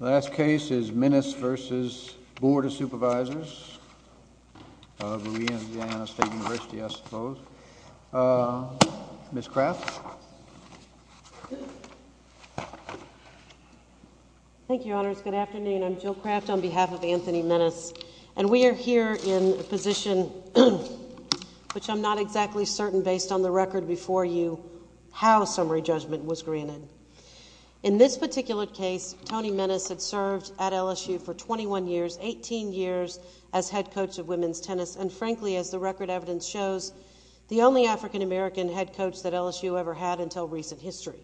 Last case is Minnis v. Board of Supervisors of Louisiana State University. Ms. Craft? Thank you, Your Honors. Good afternoon. I'm Jill Craft on behalf of Anthony Minnis. And we are here in a position which I'm not exactly certain, based on the record before you, how summary judgment was granted. In this particular case, Tony Minnis had served at LSU for 21 years, 18 years as head coach of women's tennis, and frankly, as the record evidence shows, the only African-American head coach that LSU ever had until recent history.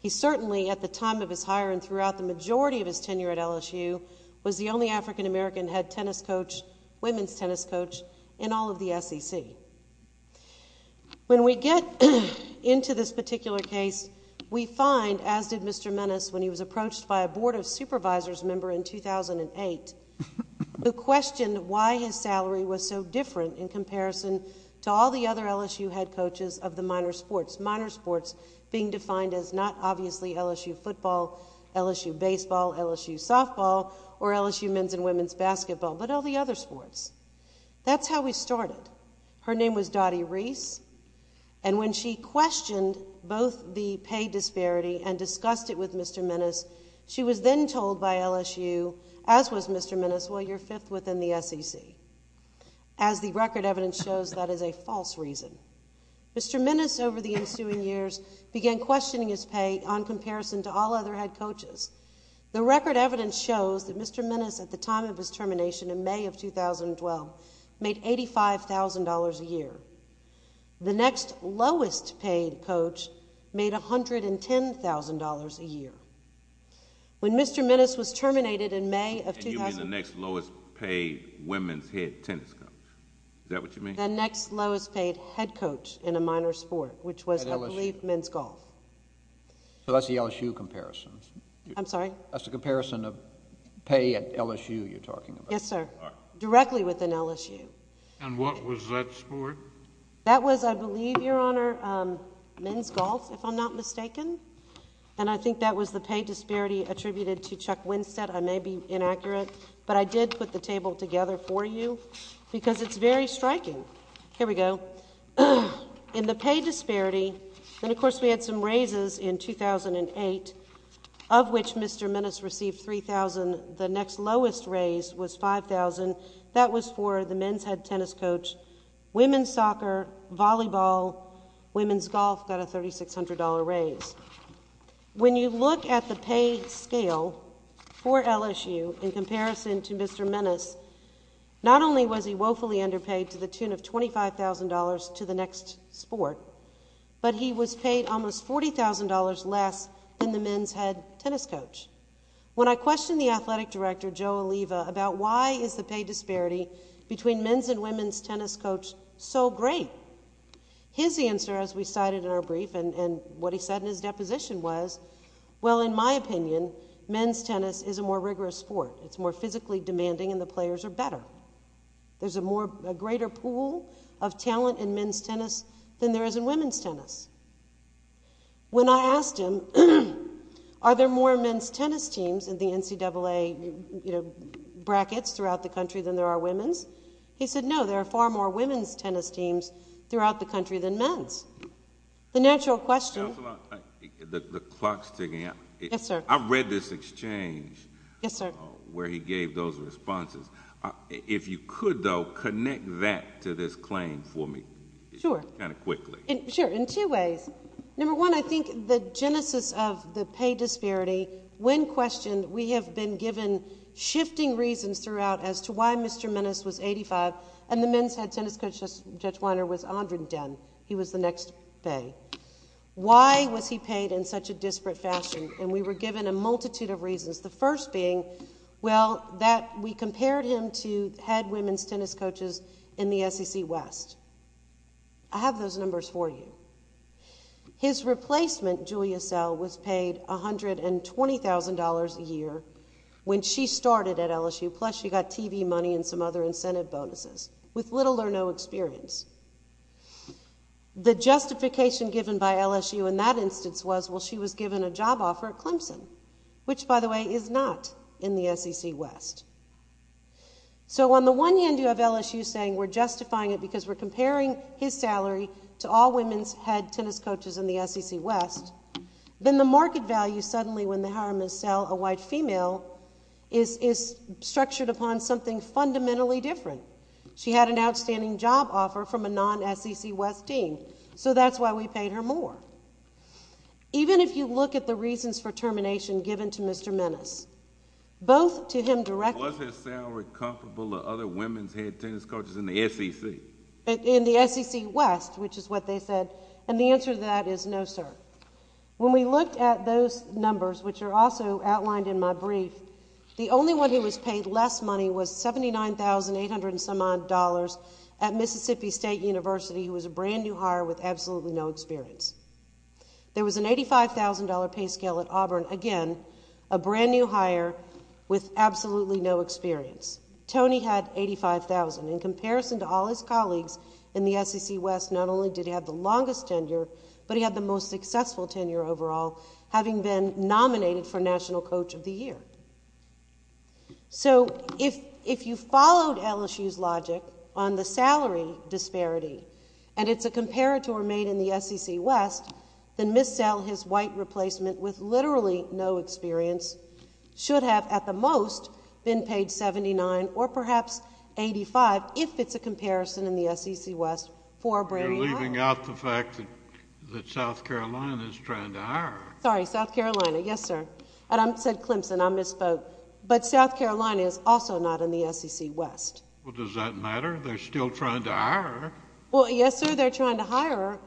He certainly, at the time of his hire and throughout the majority of his tenure at LSU, was the only African-American head tennis coach, women's tennis coach, in all of the SEC. When we get into this particular case, we find, as did Mr. Minnis when he was a college member in 2008, who questioned why his salary was so different in comparison to all the other LSU head coaches of the minor sports, minor sports being defined as not obviously LSU football, LSU baseball, LSU softball, or LSU men's and women's basketball, but all the other sports. That's how we started. Her name was Dottie Reese, and when she questioned both the pay disparity and discussed it with Mr. Minnis, she was then told by LSU, as was Mr. Minnis, well, you're fifth within the SEC. As the record evidence shows, that is a false reason. Mr. Minnis, over the ensuing years, began questioning his pay on comparison to all other head coaches. The record evidence shows that Mr. Minnis, at the time of his appointment as head coach, made $110,000 a year. When Mr. Minnis was terminated in May of... And you mean the next lowest paid women's head tennis coach. Is that what you mean? The next lowest paid head coach in a minor sport, which was, I believe, men's golf. So that's the LSU comparison. I'm sorry? That's the comparison of pay at LSU you're talking about. Yes, sir. Directly within LSU. And what was that sport? That was, I believe, Your Honor, men's golf, if I'm not mistaken. And I think that was the pay disparity attributed to Chuck Winstead. I may be inaccurate, but I did put the table together for you because it's very striking. Here we go. In the pay disparity, and of course we had some raises in 2008, of which Mr. Minnis received $3,000. The next lowest raise was $5,000. That was for the men's head tennis coach. Women's soccer, volleyball, women's golf got a $3,600 raise. When you look at the pay scale for LSU in comparison to Mr. Minnis, not only was he woefully underpaid to the tune of $25,000 to the next sport, but he was paid almost $40,000 less than the men's head tennis coach. When I questioned the athletic director, Joe Oliva, about why is the pay disparity between men's and women's tennis coach so great, his answer, as we cited in our brief and what he said in his deposition was, well, in my opinion, men's tennis is a more rigorous sport. It's more physically demanding and the players are better. There's a greater pool of talent in men's tennis than there is in women's tennis. When I asked him, are there more men's tennis teams in the NCAA, you know, brackets throughout the country than there are women's, he said, no, there are far more women's tennis teams throughout the country than men's. The natural question— Counselor, the clock's ticking. Yes, sir. I read this exchange— Yes, sir. —where he gave those responses. If you could, though, connect that to this claim for me— Sure. —kind of quickly. Sure. In two ways. Number one, I think the genesis of the pay disparity, when questioned, we have been given shifting reasons throughout as to why Mr. Menace was 85 and the men's head tennis coach, Judge Weiner, was Andrew Den. He was the next pay. Why was he paid in such a disparate fashion? And we were given a multitude of reasons, the first being, well, that we compared him to head women's tennis coaches in the SEC West. I have those numbers for you. His replacement, Julia Sell, was paid $120,000 a year when she started at LSU, plus she got TV money and some other incentive bonuses, with little or no experience. The justification given by LSU in that instance was, well, she was given a job offer at Clemson, which by the way is not in the SEC West. So on the one hand, you have LSU saying we're justifying it because we're comparing his salary to all women's head tennis coaches in the SEC West. Then the market value suddenly, when they hire Ms. Sell, a white female, is structured upon something fundamentally different. She had an outstanding job offer from a non-SEC West team, so that's why we paid her more. Even if you look at the reasons for termination given to Mr. Menace, both to him directly— Was his salary comparable to other women's head tennis coaches in the SEC? In the SEC West, which is what they said, and the answer to that is no, sir. When we looked at those numbers, which are also outlined in my brief, the only one who was paid less money was $79,800 and some odd at Mississippi State University, who was a brand new hire with absolutely no experience. There was an $85,000 pay scale at Auburn, again, a brand new hire with absolutely no experience. Tony had $85,000. In comparison to all his colleagues in the SEC West, not only did he have the longest tenure, but he had the most successful tenure overall, having been nominated for National Coach of the Year. If you followed LSU's logic on the salary disparity, and it's a comparator made in the SEC West, should have at the most been paid $79,000 or perhaps $85,000, if it's a comparison in the SEC West for a brand new hire. You're leaving out the fact that South Carolina is trying to hire her. Sorry, South Carolina, yes, sir. And I said Clemson. I misspoke. But South Carolina is also not in the SEC West. Well, does that matter? They're still trying to hire her. Well, yes, sir, they're trying to hire her.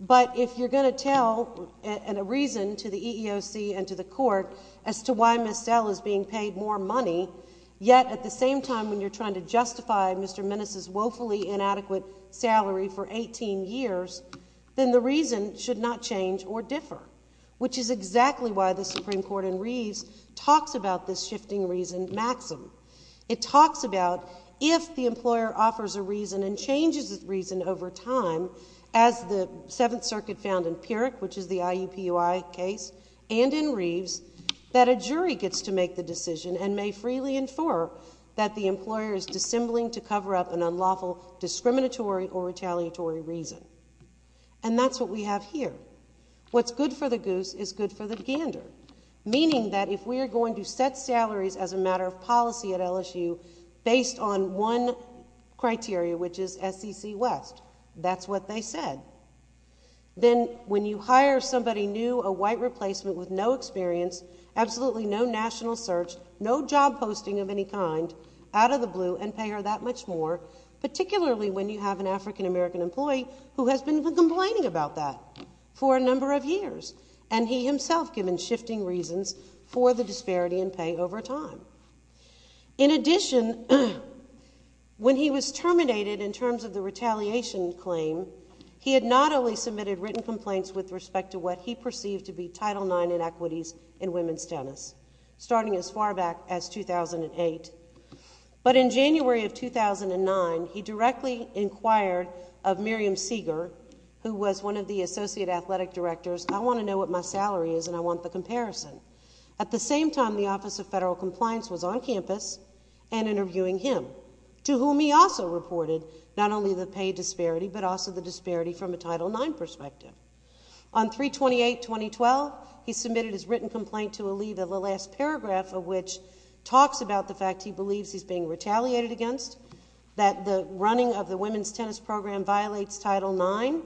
But if you're going to tell a reason to the extent that you're being paid more money, yet at the same time when you're trying to justify Mr. Minnis' woefully inadequate salary for 18 years, then the reason should not change or differ, which is exactly why the Supreme Court in Reeves talks about this shifting reason maxim. It talks about if the employer offers a reason and changes its reason over time, as the Seventh to make the decision and may freely infer that the employer is dissembling to cover up an unlawful discriminatory or retaliatory reason. And that's what we have here. What's good for the goose is good for the gander, meaning that if we are going to set salaries as a matter of policy at LSU based on one criteria, which is SEC West, that's what they said, then when you hire somebody new, a white replacement with no experience, absolutely no national search, no job posting of any kind, out of the blue, and pay her that much more, particularly when you have an African-American employee who has been complaining about that for a number of years, and he himself given shifting reasons for the disparity in pay over time. In addition, when he was terminated in terms of the retaliation claim, he had not only to be Title IX in equities and women's tennis, starting as far back as 2008, but in January of 2009, he directly inquired of Miriam Seager, who was one of the associate athletic directors, I want to know what my salary is and I want the comparison. At the same time, the Office of Federal Compliance was on campus and interviewing him, to whom he also reported not only the pay disparity, but also the disparity from a Title IX perspective. On 3-28-2012, he submitted his written complaint to a leave of the last paragraph of which talks about the fact he believes he's being retaliated against, that the running of the women's tennis program violates Title IX,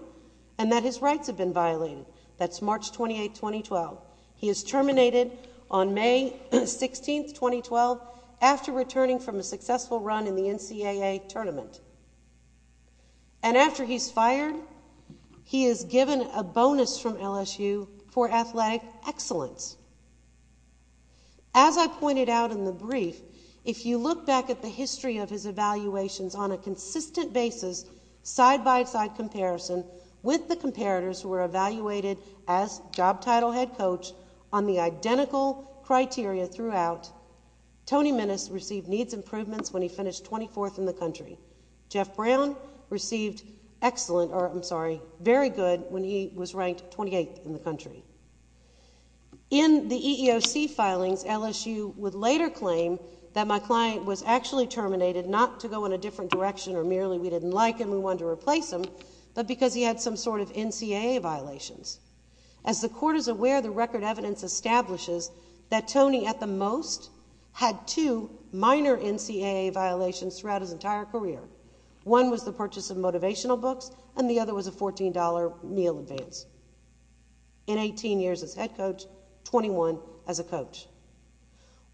and that his rights have been violated. That's March 28, 2012. He is terminated on May 16, 2012, after returning from a successful run in the NCAA tournament. And after he's fired, he is given a bonus from LSU for athletic excellence. As I pointed out in the brief, if you look back at the history of his evaluations on a consistent basis, side-by-side comparison with the comparators who were evaluated as job title head coach on the identical criteria throughout, Tony Minnis received needs improvements when he finished 24th in the country. Jeff Brown received excellent, or I'm sorry, very good when he was ranked 28th in the country. In the EEOC filings, LSU would later claim that my client was actually terminated not to go in a different direction or merely we didn't like him, we wanted to replace him, but because he had some sort of NCAA violations. As the Court is aware, the record evidence establishes that Tony, at the most, had two minor NCAA violations throughout his entire career. One was the purchase of motivational books, and the other was a $14 meal advance. In 18 years as head coach, 21 as a coach.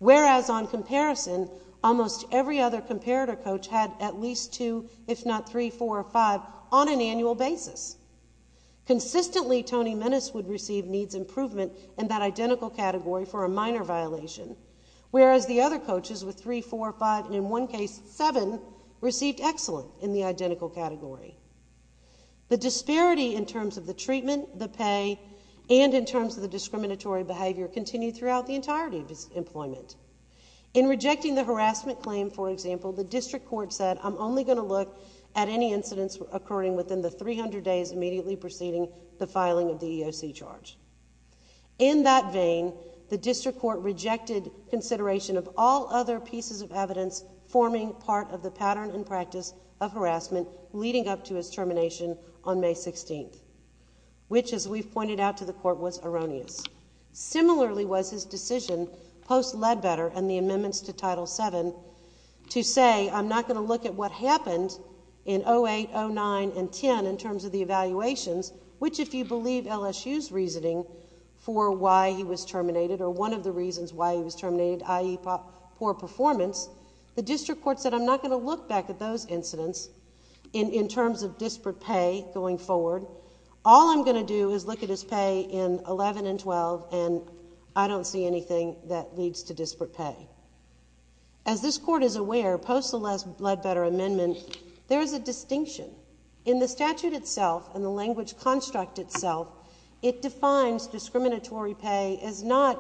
Whereas on comparison, almost every other comparator coach had at least two, if not three, four, or five on an annual basis. Consistently, Tony Minnis would receive needs improvement in that identical category for a minor violation. Whereas the other coaches with three, four, five, and in one case, seven, received excellent in the identical category. The disparity in terms of the treatment, the pay, and in terms of the discriminatory behavior continued throughout the entirety of his employment. In rejecting the harassment claim, for example, the District Court said, I'm only going to look at any incidents occurring within the 300 days immediately preceding the filing of the EEOC charge. In that vein, the District Court rejected consideration of all other pieces of evidence forming part of the pattern and practice of harassment leading up to his termination on May 16th, which, as we've pointed out to the Court, was erroneous. Similarly was his decision, post Ledbetter and the amendments to Title VII, to say, I'm not going to look at what happened in 08, 09, and 10 in terms of the evaluations, which if you believe LSU's reasoning for why he was terminated, or one of the reasons why he was terminated, i.e., poor performance, the District Court said, I'm not going to look back at those incidents in terms of disparate pay going forward. All I'm going to do is look at his pay in 11 and 12, and I don't see anything that leads to disparate pay. As this Court is aware, post the last Ledbetter amendment, there is a distinction. In the statute itself, and the language construct itself, it defines discriminatory pay as not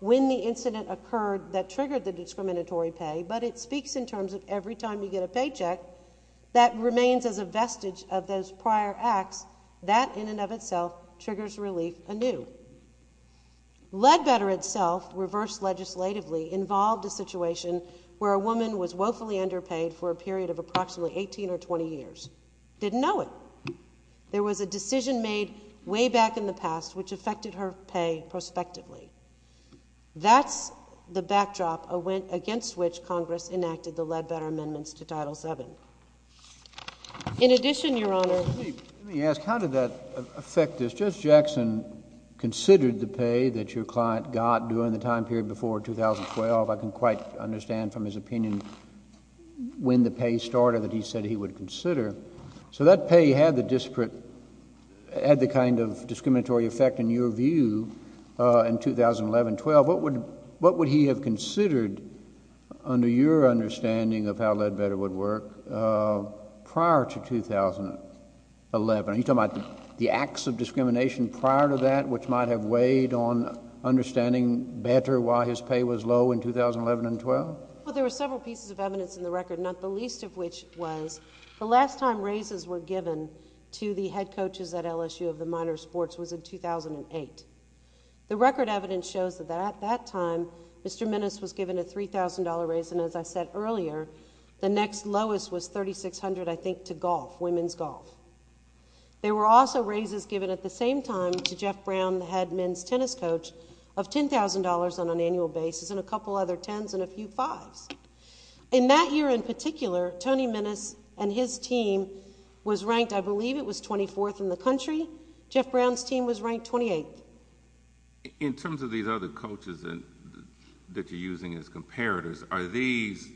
when the incident occurred that triggered the discriminatory pay, but it speaks in terms of every time you get a paycheck that remains as a vestige of those prior acts. That in and of itself triggers relief anew. Ledbetter itself, reversed legislatively, involved a situation where a woman was woefully underpaid for a period of approximately 18 or 20 years. Didn't know it. There was a decision made way back in the past which affected her pay prospectively. That's the backdrop against which Congress enacted the Ledbetter amendments to Title VII. In addition, Your Honor. Let me ask, how did that affect this? Judge Jackson considered the pay that your client got during the time period before 2012. I can quite understand from his opinion when the pay started that he said he would consider. So that pay had the kind of discriminatory effect, in your view, in 2011-12. What would he have considered, under your understanding of how Ledbetter would work, prior to 2011? Are you talking about the acts of discrimination prior to that, which might have weighed on 2011-12? Well, there were several pieces of evidence in the record, not the least of which was the last time raises were given to the head coaches at LSU of the minor sports was in 2008. The record evidence shows that at that time, Mr. Minnis was given a $3,000 raise, and as I said earlier, the next lowest was $3,600, I think, to golf, women's golf. There were also raises given at the same time to Jeff Brown, the head men's tennis coach, of $10,000 on an annual basis, and a couple other tens and a few fives. In that year in particular, Tony Minnis and his team was ranked, I believe, it was 24th in the country. Jeff Brown's team was ranked 28th. In terms of these other coaches that you're using as comparators, are these,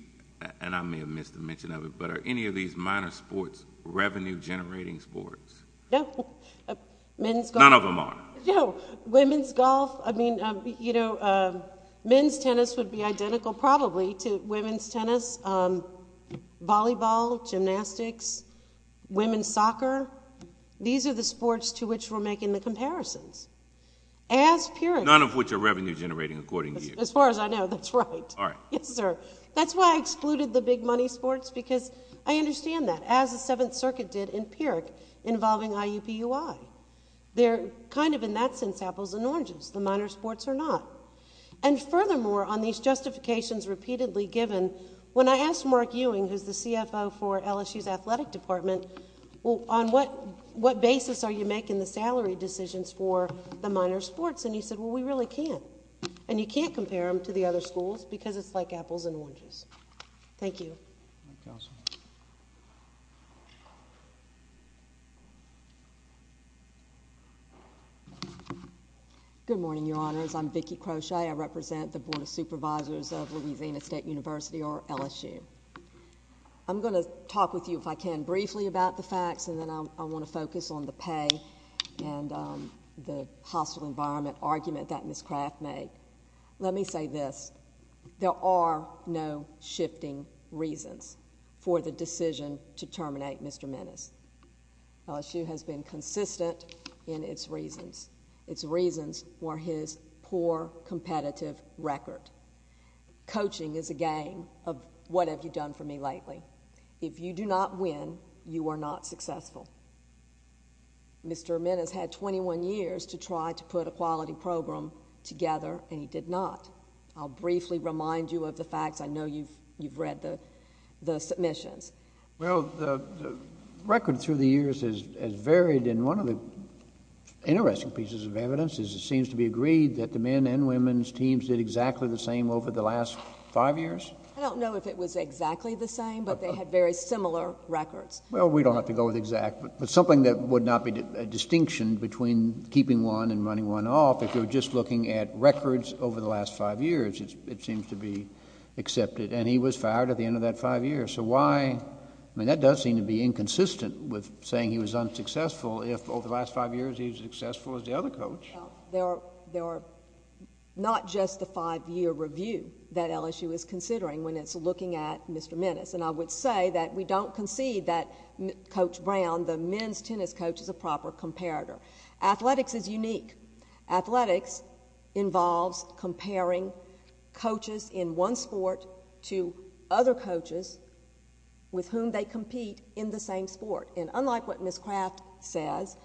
and I may have missed the mention of it, but are any of these minor sports revenue-generating sports? No. Men's golf? None of them are. No. Women's golf? I mean, you know, men's tennis would be identical probably to women's tennis, volleyball, gymnastics, women's soccer. These are the sports to which we're making the comparisons. As Pyrrhic... None of which are revenue-generating, according to you. As far as I know, that's right. All right. Yes, sir. That's why I excluded the big money sports, because I understand that, as the Seventh Circuit did in Pyrrhic involving IUPUI. They're kind of in that sense apples and oranges, the minor sports are not. And furthermore, on these justifications repeatedly given, when I asked Mark Ewing, who's the CFO for LSU's Athletic Department, well, on what basis are you making the salary decisions for the minor sports, and he said, well, we really can't. And you can't compare them to the other schools, because it's like apples and oranges. Thank you. All right, counsel. Good morning, Your Honors. I'm Vicki Croce. I represent the Board of Supervisors of Louisiana State University, or LSU. I'm going to talk with you, if I can, briefly about the facts, and then I want to focus on the pay and the hostile environment argument that Ms. Craft made. Let me say this, there are no shifting reasons for the decision to terminate Mr. Minnis. LSU has been consistent in its reasons. Its reasons were his poor competitive record. Coaching is a game of, what have you done for me lately? If you do not win, you are not successful. Mr. Minnis had 21 years to try to put a quality program together, and he did not. I'll briefly remind you of the facts. I know you've read the submissions. Well, the record through the years has varied, and one of the interesting pieces of evidence is it seems to be agreed that the men and women's teams did exactly the same over the last five years. I don't know if it was exactly the same, but they had very similar records. Well, we don't have to go with exact, but something that would not be a distinction between keeping one and running one off, if you're just looking at records over the last five years, it seems to be accepted. And he was fired at the end of that five years. So why? I mean, that does seem to be inconsistent with saying he was unsuccessful if over the last five years he was successful as the other coach. Well, there are not just the five-year review that LSU is considering when it's looking at Mr. Minnis. And I would say that we don't concede that Coach Brown, the men's tennis coach, is a proper comparator. Athletics is unique. Athletics involves comparing coaches in one sport to other coaches with whom they compete in the same sport. And unlike what Ms. Craft says,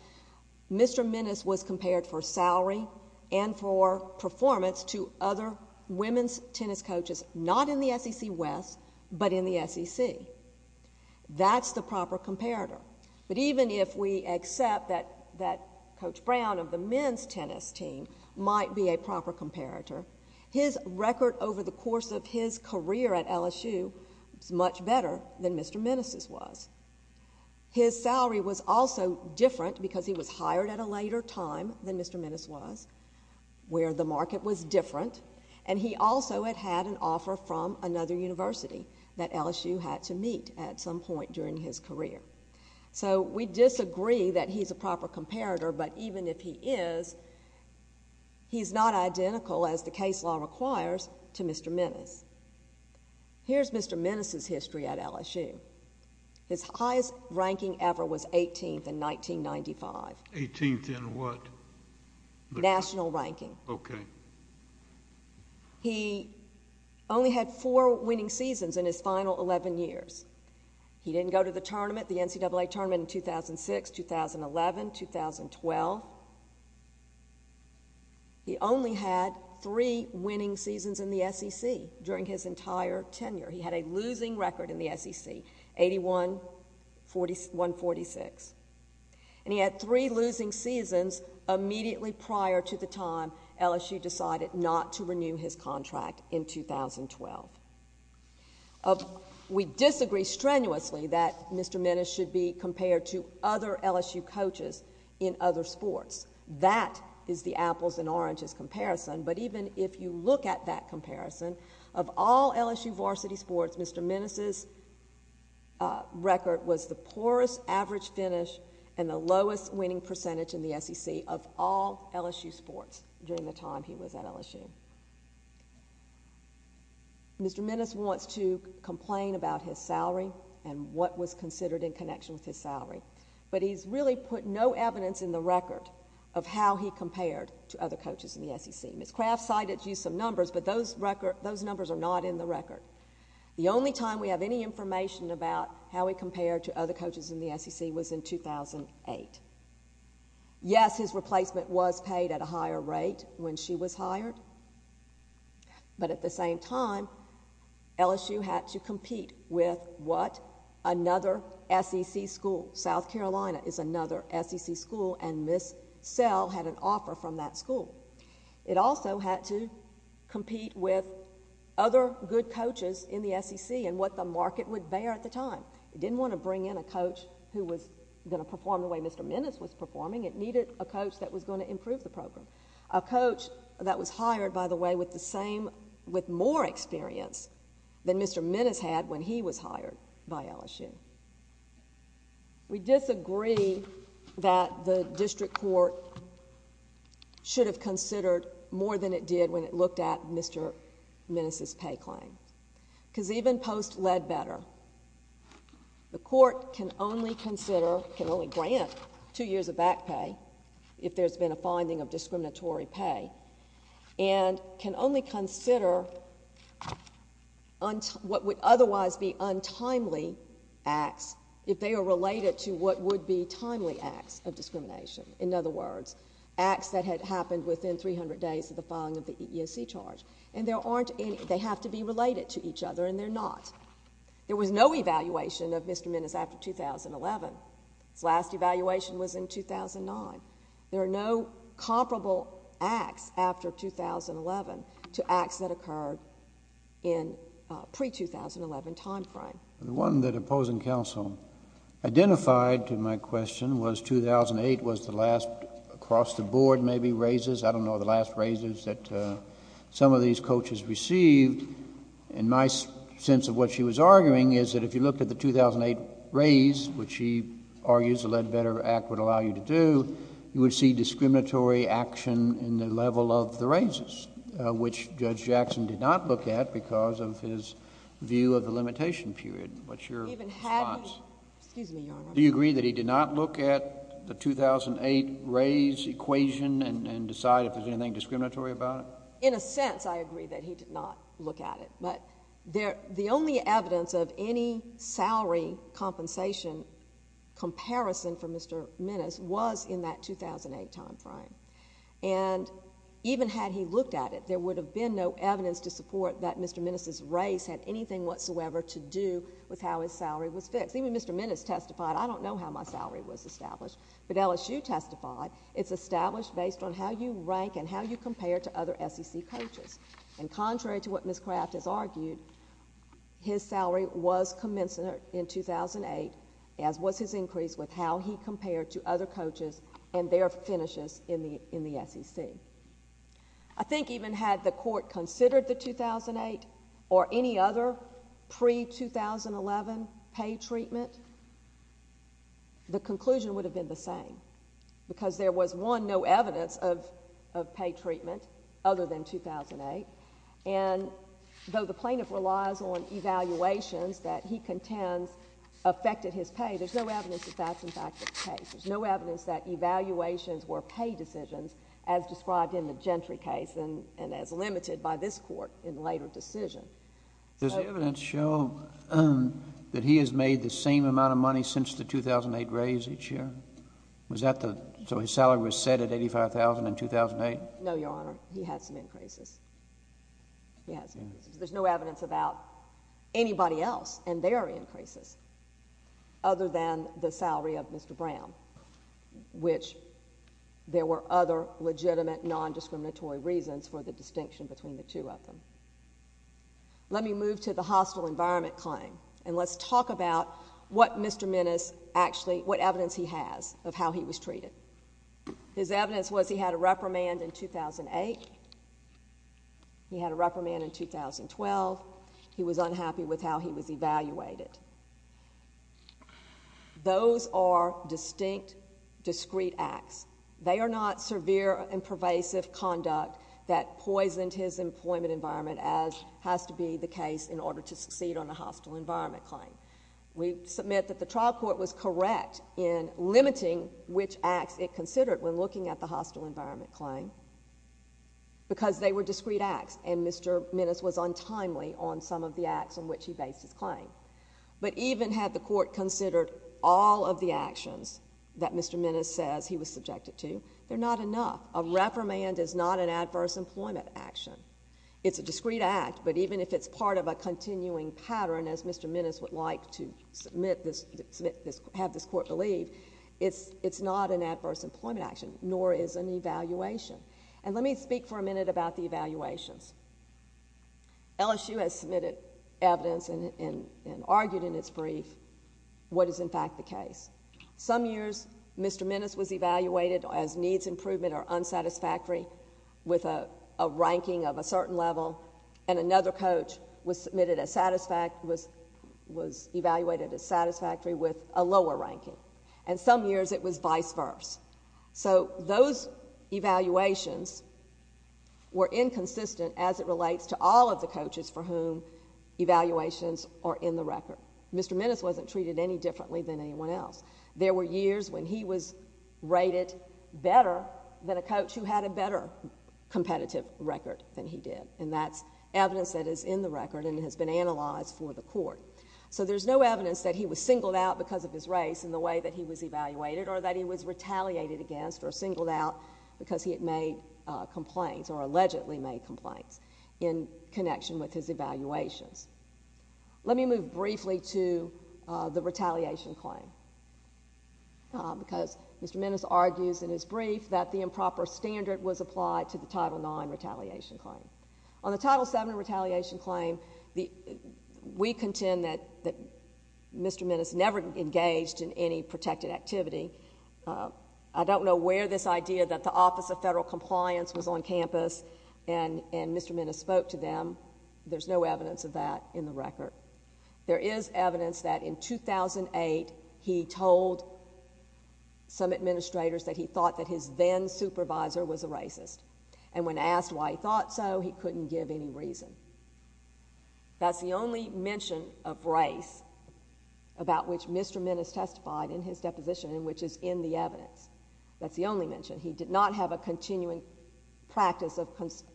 Mr. Minnis was compared for salary and for performance to other women's tennis coaches, not in the SEC West, but in the SEC. That's the proper comparator. But even if we accept that Coach Brown of the men's tennis team might be a proper comparator, his record over the course of his career at LSU is much better than Mr. Minnis's was. His salary was also different because he was hired at a later time than Mr. Minnis was, where the market was different, and he also had had an offer from another university that LSU had to meet at some point during his career. So we disagree that he's a proper comparator, but even if he is, he's not identical, as the case law requires, to Mr. Minnis. Here's Mr. Minnis's history at LSU. His highest ranking ever was 18th in 1995. 18th in what? National ranking. Okay. He only had four winning seasons in his final 11 years. He didn't go to the tournament, the NCAA tournament, in 2006, 2011, 2012. He only had three winning seasons in the SEC during his entire tenure. He had a losing record in the SEC, 81-146. And he had three losing seasons immediately prior to the time LSU decided not to renew his contract in 2012. We disagree strenuously that Mr. Minnis should be compared to other LSU coaches in other sports. That is the apples and oranges comparison, but even if you look at that comparison, of all LSU varsity sports, Mr. Minnis's record was the poorest average finish and the lowest winning percentage in the SEC of all LSU sports during the time he was at LSU. Mr. Minnis wants to complain about his salary and what was considered in connection with his salary, but he's really put no evidence in the record of how he compared to other coaches in the SEC. Ms. Craft cited you some numbers, but those numbers are not in the record. The only time we have any information about how he compared to other coaches in the SEC was in 2008. Yes, his replacement was paid at a higher rate when she was hired, but at the same time, LSU had to compete with what? Another SEC school. South Carolina is another SEC school, and Ms. Sell had an offer from that school. It also had to compete with other good coaches in the SEC and what the market would bear at the time. It didn't want to bring in a coach who was going to perform the way Mr. Minnis was performing. It needed a coach that was going to improve the program, a coach that was hired, by the way, with more experience than Mr. Minnis had when he was hired by LSU. We disagree that the district court should have considered more than it did when it looked at Mr. Minnis' pay claim, because even post-Ledbetter, the court can only consider, can only grant two years of back pay if there's been a finding of discriminatory pay, and can only consider what would otherwise be untimely acts if they are related to what would be timely acts of discrimination. In other words, acts that had happened within 300 days of the filing of the EEOC charge. And there aren't any? They have to be related to each other, and they're not. There was no evaluation of Mr. Minnis after 2011. His last evaluation was in 2009. There are no comparable acts after 2011 to acts that occurred in pre-2011 time frame. The one that opposing counsel identified to my question was 2008 was the last across the board, maybe, raises, I don't know, the last raises that some of these coaches received. And my sense of what she was arguing is that if you looked at the 2008 raise, which she argues the Ledbetter Act would allow you to do, you would see discriminatory action in the level of the raises, which Judge Jackson did not look at because of his view of the limitation period. What's your response? Do you agree that he did not look at the 2008 raise equation and decide if there's anything discriminatory about it? In a sense, I agree that he did not look at it. But the only evidence of any salary compensation comparison for Mr. Minnis was in that 2008 time frame. And even had he looked at it, there would have been no evidence to support that Mr. Minnis' raise had anything whatsoever to do with how his salary was fixed. Even Mr. Minnis testified, I don't know how my salary was established. But LSU testified, it's established based on how you rank and how you compare to other SEC coaches. And contrary to what Ms. Craft has argued, his salary was commensurate in 2008, as was his increase with how he compared to other coaches and their finishes in the SEC. I think even had the Court considered the 2008 or any other pre-2011 pay treatment, the conclusion would have been the same because there was, one, no evidence of pay treatment other than 2008. And though the plaintiff relies on evaluations that he contends affected his pay, there's no evidence that that's, in fact, the case. There's no evidence that evaluations were pay decisions as described in the Gentry case and as limited by this Court in later decision. Does the evidence show that he has made the same amount of money since the 2008 raise each year? Was that the — so his salary was set at $85,000 in 2008? No, Your Honor. He had some increases. He had some increases. There's no evidence about anybody else and their increases other than the salary of Mr. Brown, which there were other legitimate, nondiscriminatory reasons for the distinction between the two of them. Let me move to the hostile environment claim, and let's talk about what Mr. Minnis actually — what evidence he has of how he was treated. His evidence was he had a reprimand in 2008. He had a reprimand in 2012. He was unhappy with how he was evaluated. Those are distinct, discrete acts. They are not severe and pervasive conduct that poisoned his employment environment, as has to be the case in order to succeed on the hostile environment claim. We submit that the trial court was correct in limiting which acts it considered when looking at the hostile environment claim because they were discrete acts, and Mr. Minnis was untimely on some of the acts on which he based his claim. But even had the court considered all of the actions that Mr. Minnis says he was subjected to, they're not enough. A reprimand is not an adverse employment action. It's a discrete act, but even if it's part of a continuing pattern, as Mr. Minnis would like to have this court believe, it's not an adverse employment action, nor is an evaluation. And let me speak for a minute about the evaluations. LSU has submitted evidence and argued in its brief what is, in fact, the case. Some years, Mr. Minnis was evaluated as needs improvement or unsatisfactory with a ranking of a certain level, and another coach was evaluated as satisfactory with a lower ranking. And some years, it was vice versa. So those evaluations were inconsistent as it relates to all of the coaches for whom evaluations are in the record. Mr. Minnis wasn't treated any differently than anyone else. There were years when he was rated better than a coach who had a better competitive record than he did, and that's evidence that is in the record and has been analyzed for the court. So there's no evidence that he was singled out because of his race in the way that he was evaluated or that he was retaliated against or singled out because he had made complaints or allegedly made complaints in connection with his evaluations. Let me move briefly to the retaliation claim because Mr. Minnis argues in his brief that the improper standard was applied to the Title IX retaliation claim. On the Title VII retaliation claim, we contend that Mr. Minnis never engaged in any protected activity. I don't know where this idea that the Office of Federal Compliance was on campus and Mr. Minnis spoke to them. There's no evidence of that in the record. There is evidence that in 2008, he told some administrators that he thought that his then supervisor was a racist, and when asked why he thought so, he couldn't give any reason. That's the only mention of race about which Mr. Minnis testified in his deposition and which is in the evidence. That's the only mention. He did not have a continuing practice of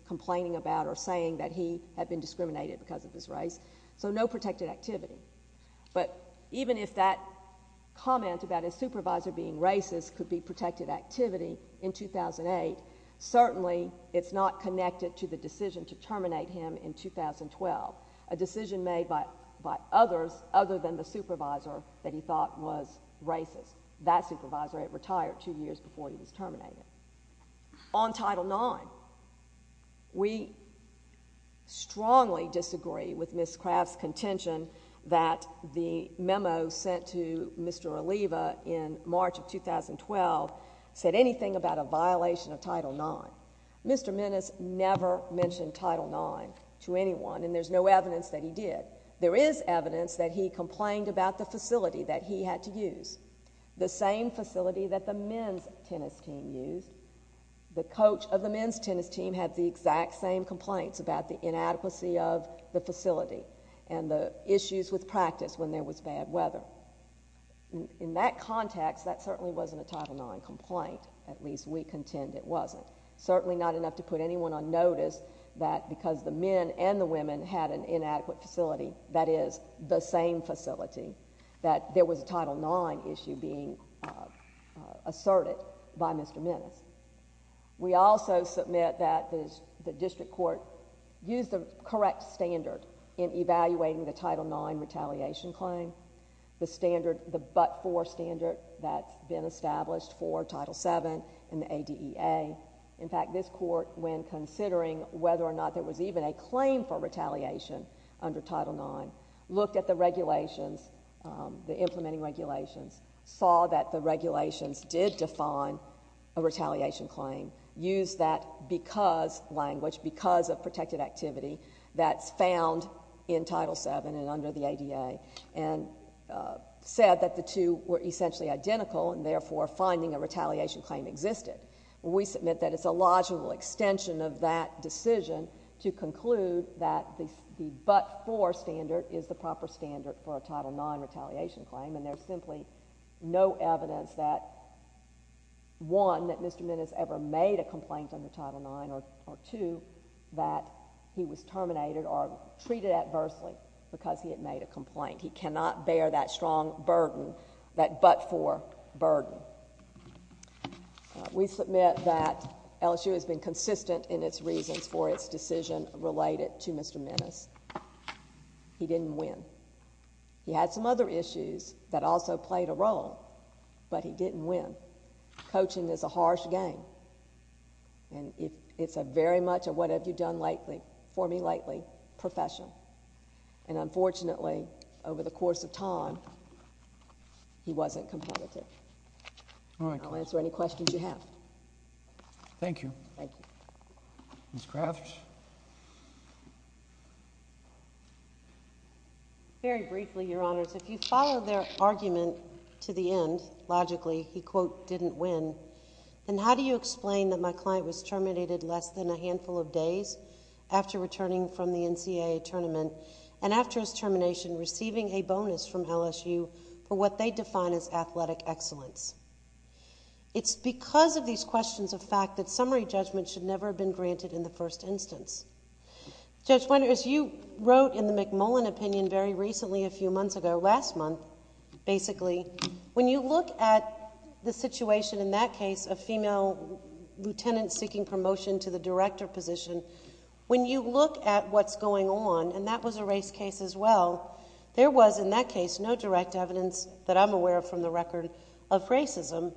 complaining about or saying that he had been discriminated because of his race, so no protected activity. But even if that comment about his supervisor being racist could be protected activity in 2008, certainly it's not connected to the decision to terminate him in 2012, a decision made by others other than the supervisor that he thought was racist. That supervisor had retired two years before he was terminated. On Title IX, we strongly disagree with Ms. Craft's contention that the memo sent to Mr. Oliva in March of 2012 said anything about a violation of Title IX. Mr. Minnis never mentioned Title IX to anyone, and there's no evidence that he did. There is evidence that he complained about the facility that he had to use, the same facility that the men's tennis team used. The coach of the men's tennis team had the exact same complaints about the inadequacy of the facility and the issues with practice when there was bad weather. In that context, that certainly wasn't a Title IX complaint. At least we contend it wasn't. Certainly not enough to put anyone on notice that because the men and the women had an opportunity, that is, the same facility, that there was a Title IX issue being asserted by Mr. Minnis. We also submit that the district court used the correct standard in evaluating the Title IX retaliation claim, the standard, the but-for standard that's been established for Title VII and the ADEA. In fact, this court, when considering whether or not there was even a claim for retaliation under Title IX, looked at the regulations, the implementing regulations, saw that the regulations did define a retaliation claim, used that because language, because of protected activity that's found in Title VII and under the ADEA, and said that the two were essentially identical and, therefore, finding a retaliation claim existed. We submit that it's a logical extension of that decision to conclude that the but-for standard is the proper standard for a Title IX retaliation claim, and there's simply no evidence that, one, that Mr. Minnis ever made a complaint under Title IX or, two, that he was terminated or treated adversely because he had made a complaint. He cannot bear that strong burden, that but-for burden. We submit that LSU has been consistent in its reasons for its decision related to Mr. Minnis. He didn't win. He had some other issues that also played a role, but he didn't win. Coaching is a harsh game, and it's a very much a what-have-you-done-for-me-lately profession, and, unfortunately, over the course of time, he wasn't competitive. All right. I'll answer any questions you have. Thank you. Thank you. Ms. Crathers? Very briefly, Your Honors, if you follow their argument to the end, logically, he, quote, didn't win, then how do you explain that my client was terminated less than a handful of days after returning from the NCAA tournament and, after his termination, receiving a bonus from LSU for what they define as athletic excellence? It's because of these questions of fact that summary judgment should never have been granted in the first instance. Judge Winters, you wrote in the McMullen opinion very recently, a few months ago, last month, basically, when you look at the situation in that case of female lieutenants seeking promotion to the director position, when you look at what's going on, and that was a race case as well, there was, in that case, no direct evidence that I'm aware of from the record of racism,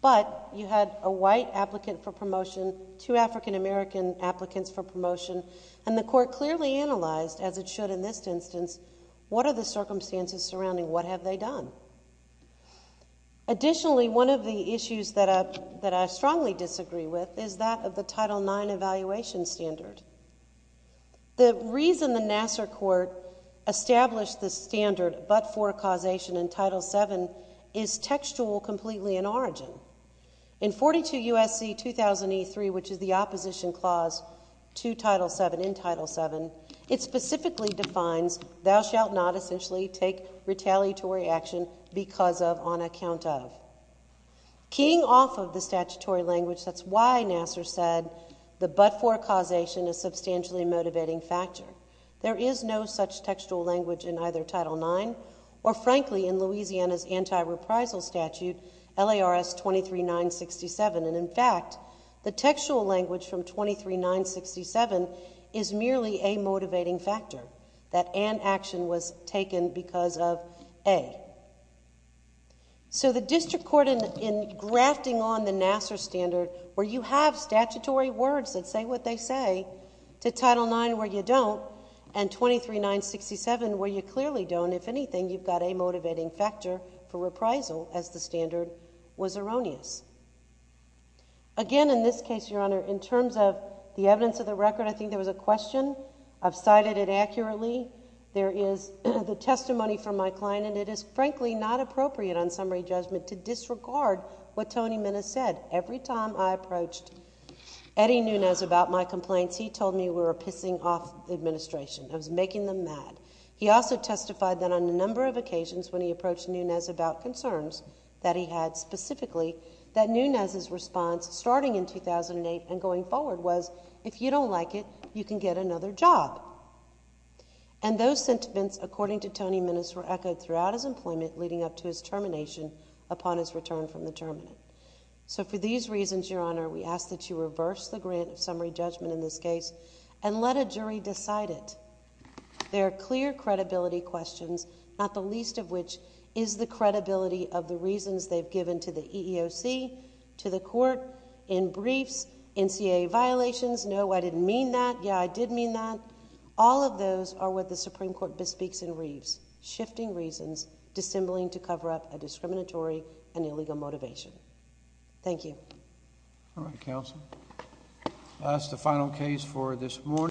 but you had a white applicant for promotion, two African-American applicants for promotion, and the court clearly analyzed, as it should in this instance, what are the circumstances surrounding what have they done? Additionally, one of the issues that I strongly disagree with is that of the Title IX evaluation standard. The reason the Nassar court established this standard, but for causation in Title VII, is textual, completely in origin. In 42 U.S.C. 2000E3, which is the opposition clause to Title VII, in Title VII, it specifically defines, thou shalt not essentially take retaliatory action because of, on account of. Keying off of the statutory language, that's why Nassar said the but-for causation is substantially a motivating factor. There is no such textual language in either Title IX, or frankly, in Louisiana's anti-reprisal statute, LARS 23967, and in fact, the textual language from 23967 is merely a motivating factor, that an action was taken because of a. So the district court, in grafting on the Nassar standard, where you have statutory words that say what they say, to Title IX, where you don't, and 23967, where you clearly don't, if anything, you've got a motivating factor for reprisal, as the standard was erroneous. Again, in this case, Your Honor, in terms of the evidence of the record, I think there is the testimony from my client, and it is frankly not appropriate on summary judgment to disregard what Tony Minnis said. Every time I approached Eddie Nunes about my complaints, he told me we were pissing off the administration. I was making them mad. He also testified that on a number of occasions, when he approached Nunes about concerns that he had specifically, that Nunes' response, starting in 2008 and going forward, was, if you don't like it, you can get another job. And those sentiments, according to Tony Minnis, were echoed throughout his employment, leading up to his termination, upon his return from the term. So for these reasons, Your Honor, we ask that you reverse the grant of summary judgment in this case, and let a jury decide it. There are clear credibility questions, not the least of which is the credibility of the I didn't mean that. Yeah, I did mean that. All of those are what the Supreme Court bespeaks in Reeves, shifting reasons, dissembling to cover up a discriminatory and illegal motivation. Thank you. All right, Counsel. That's the final case for this morning.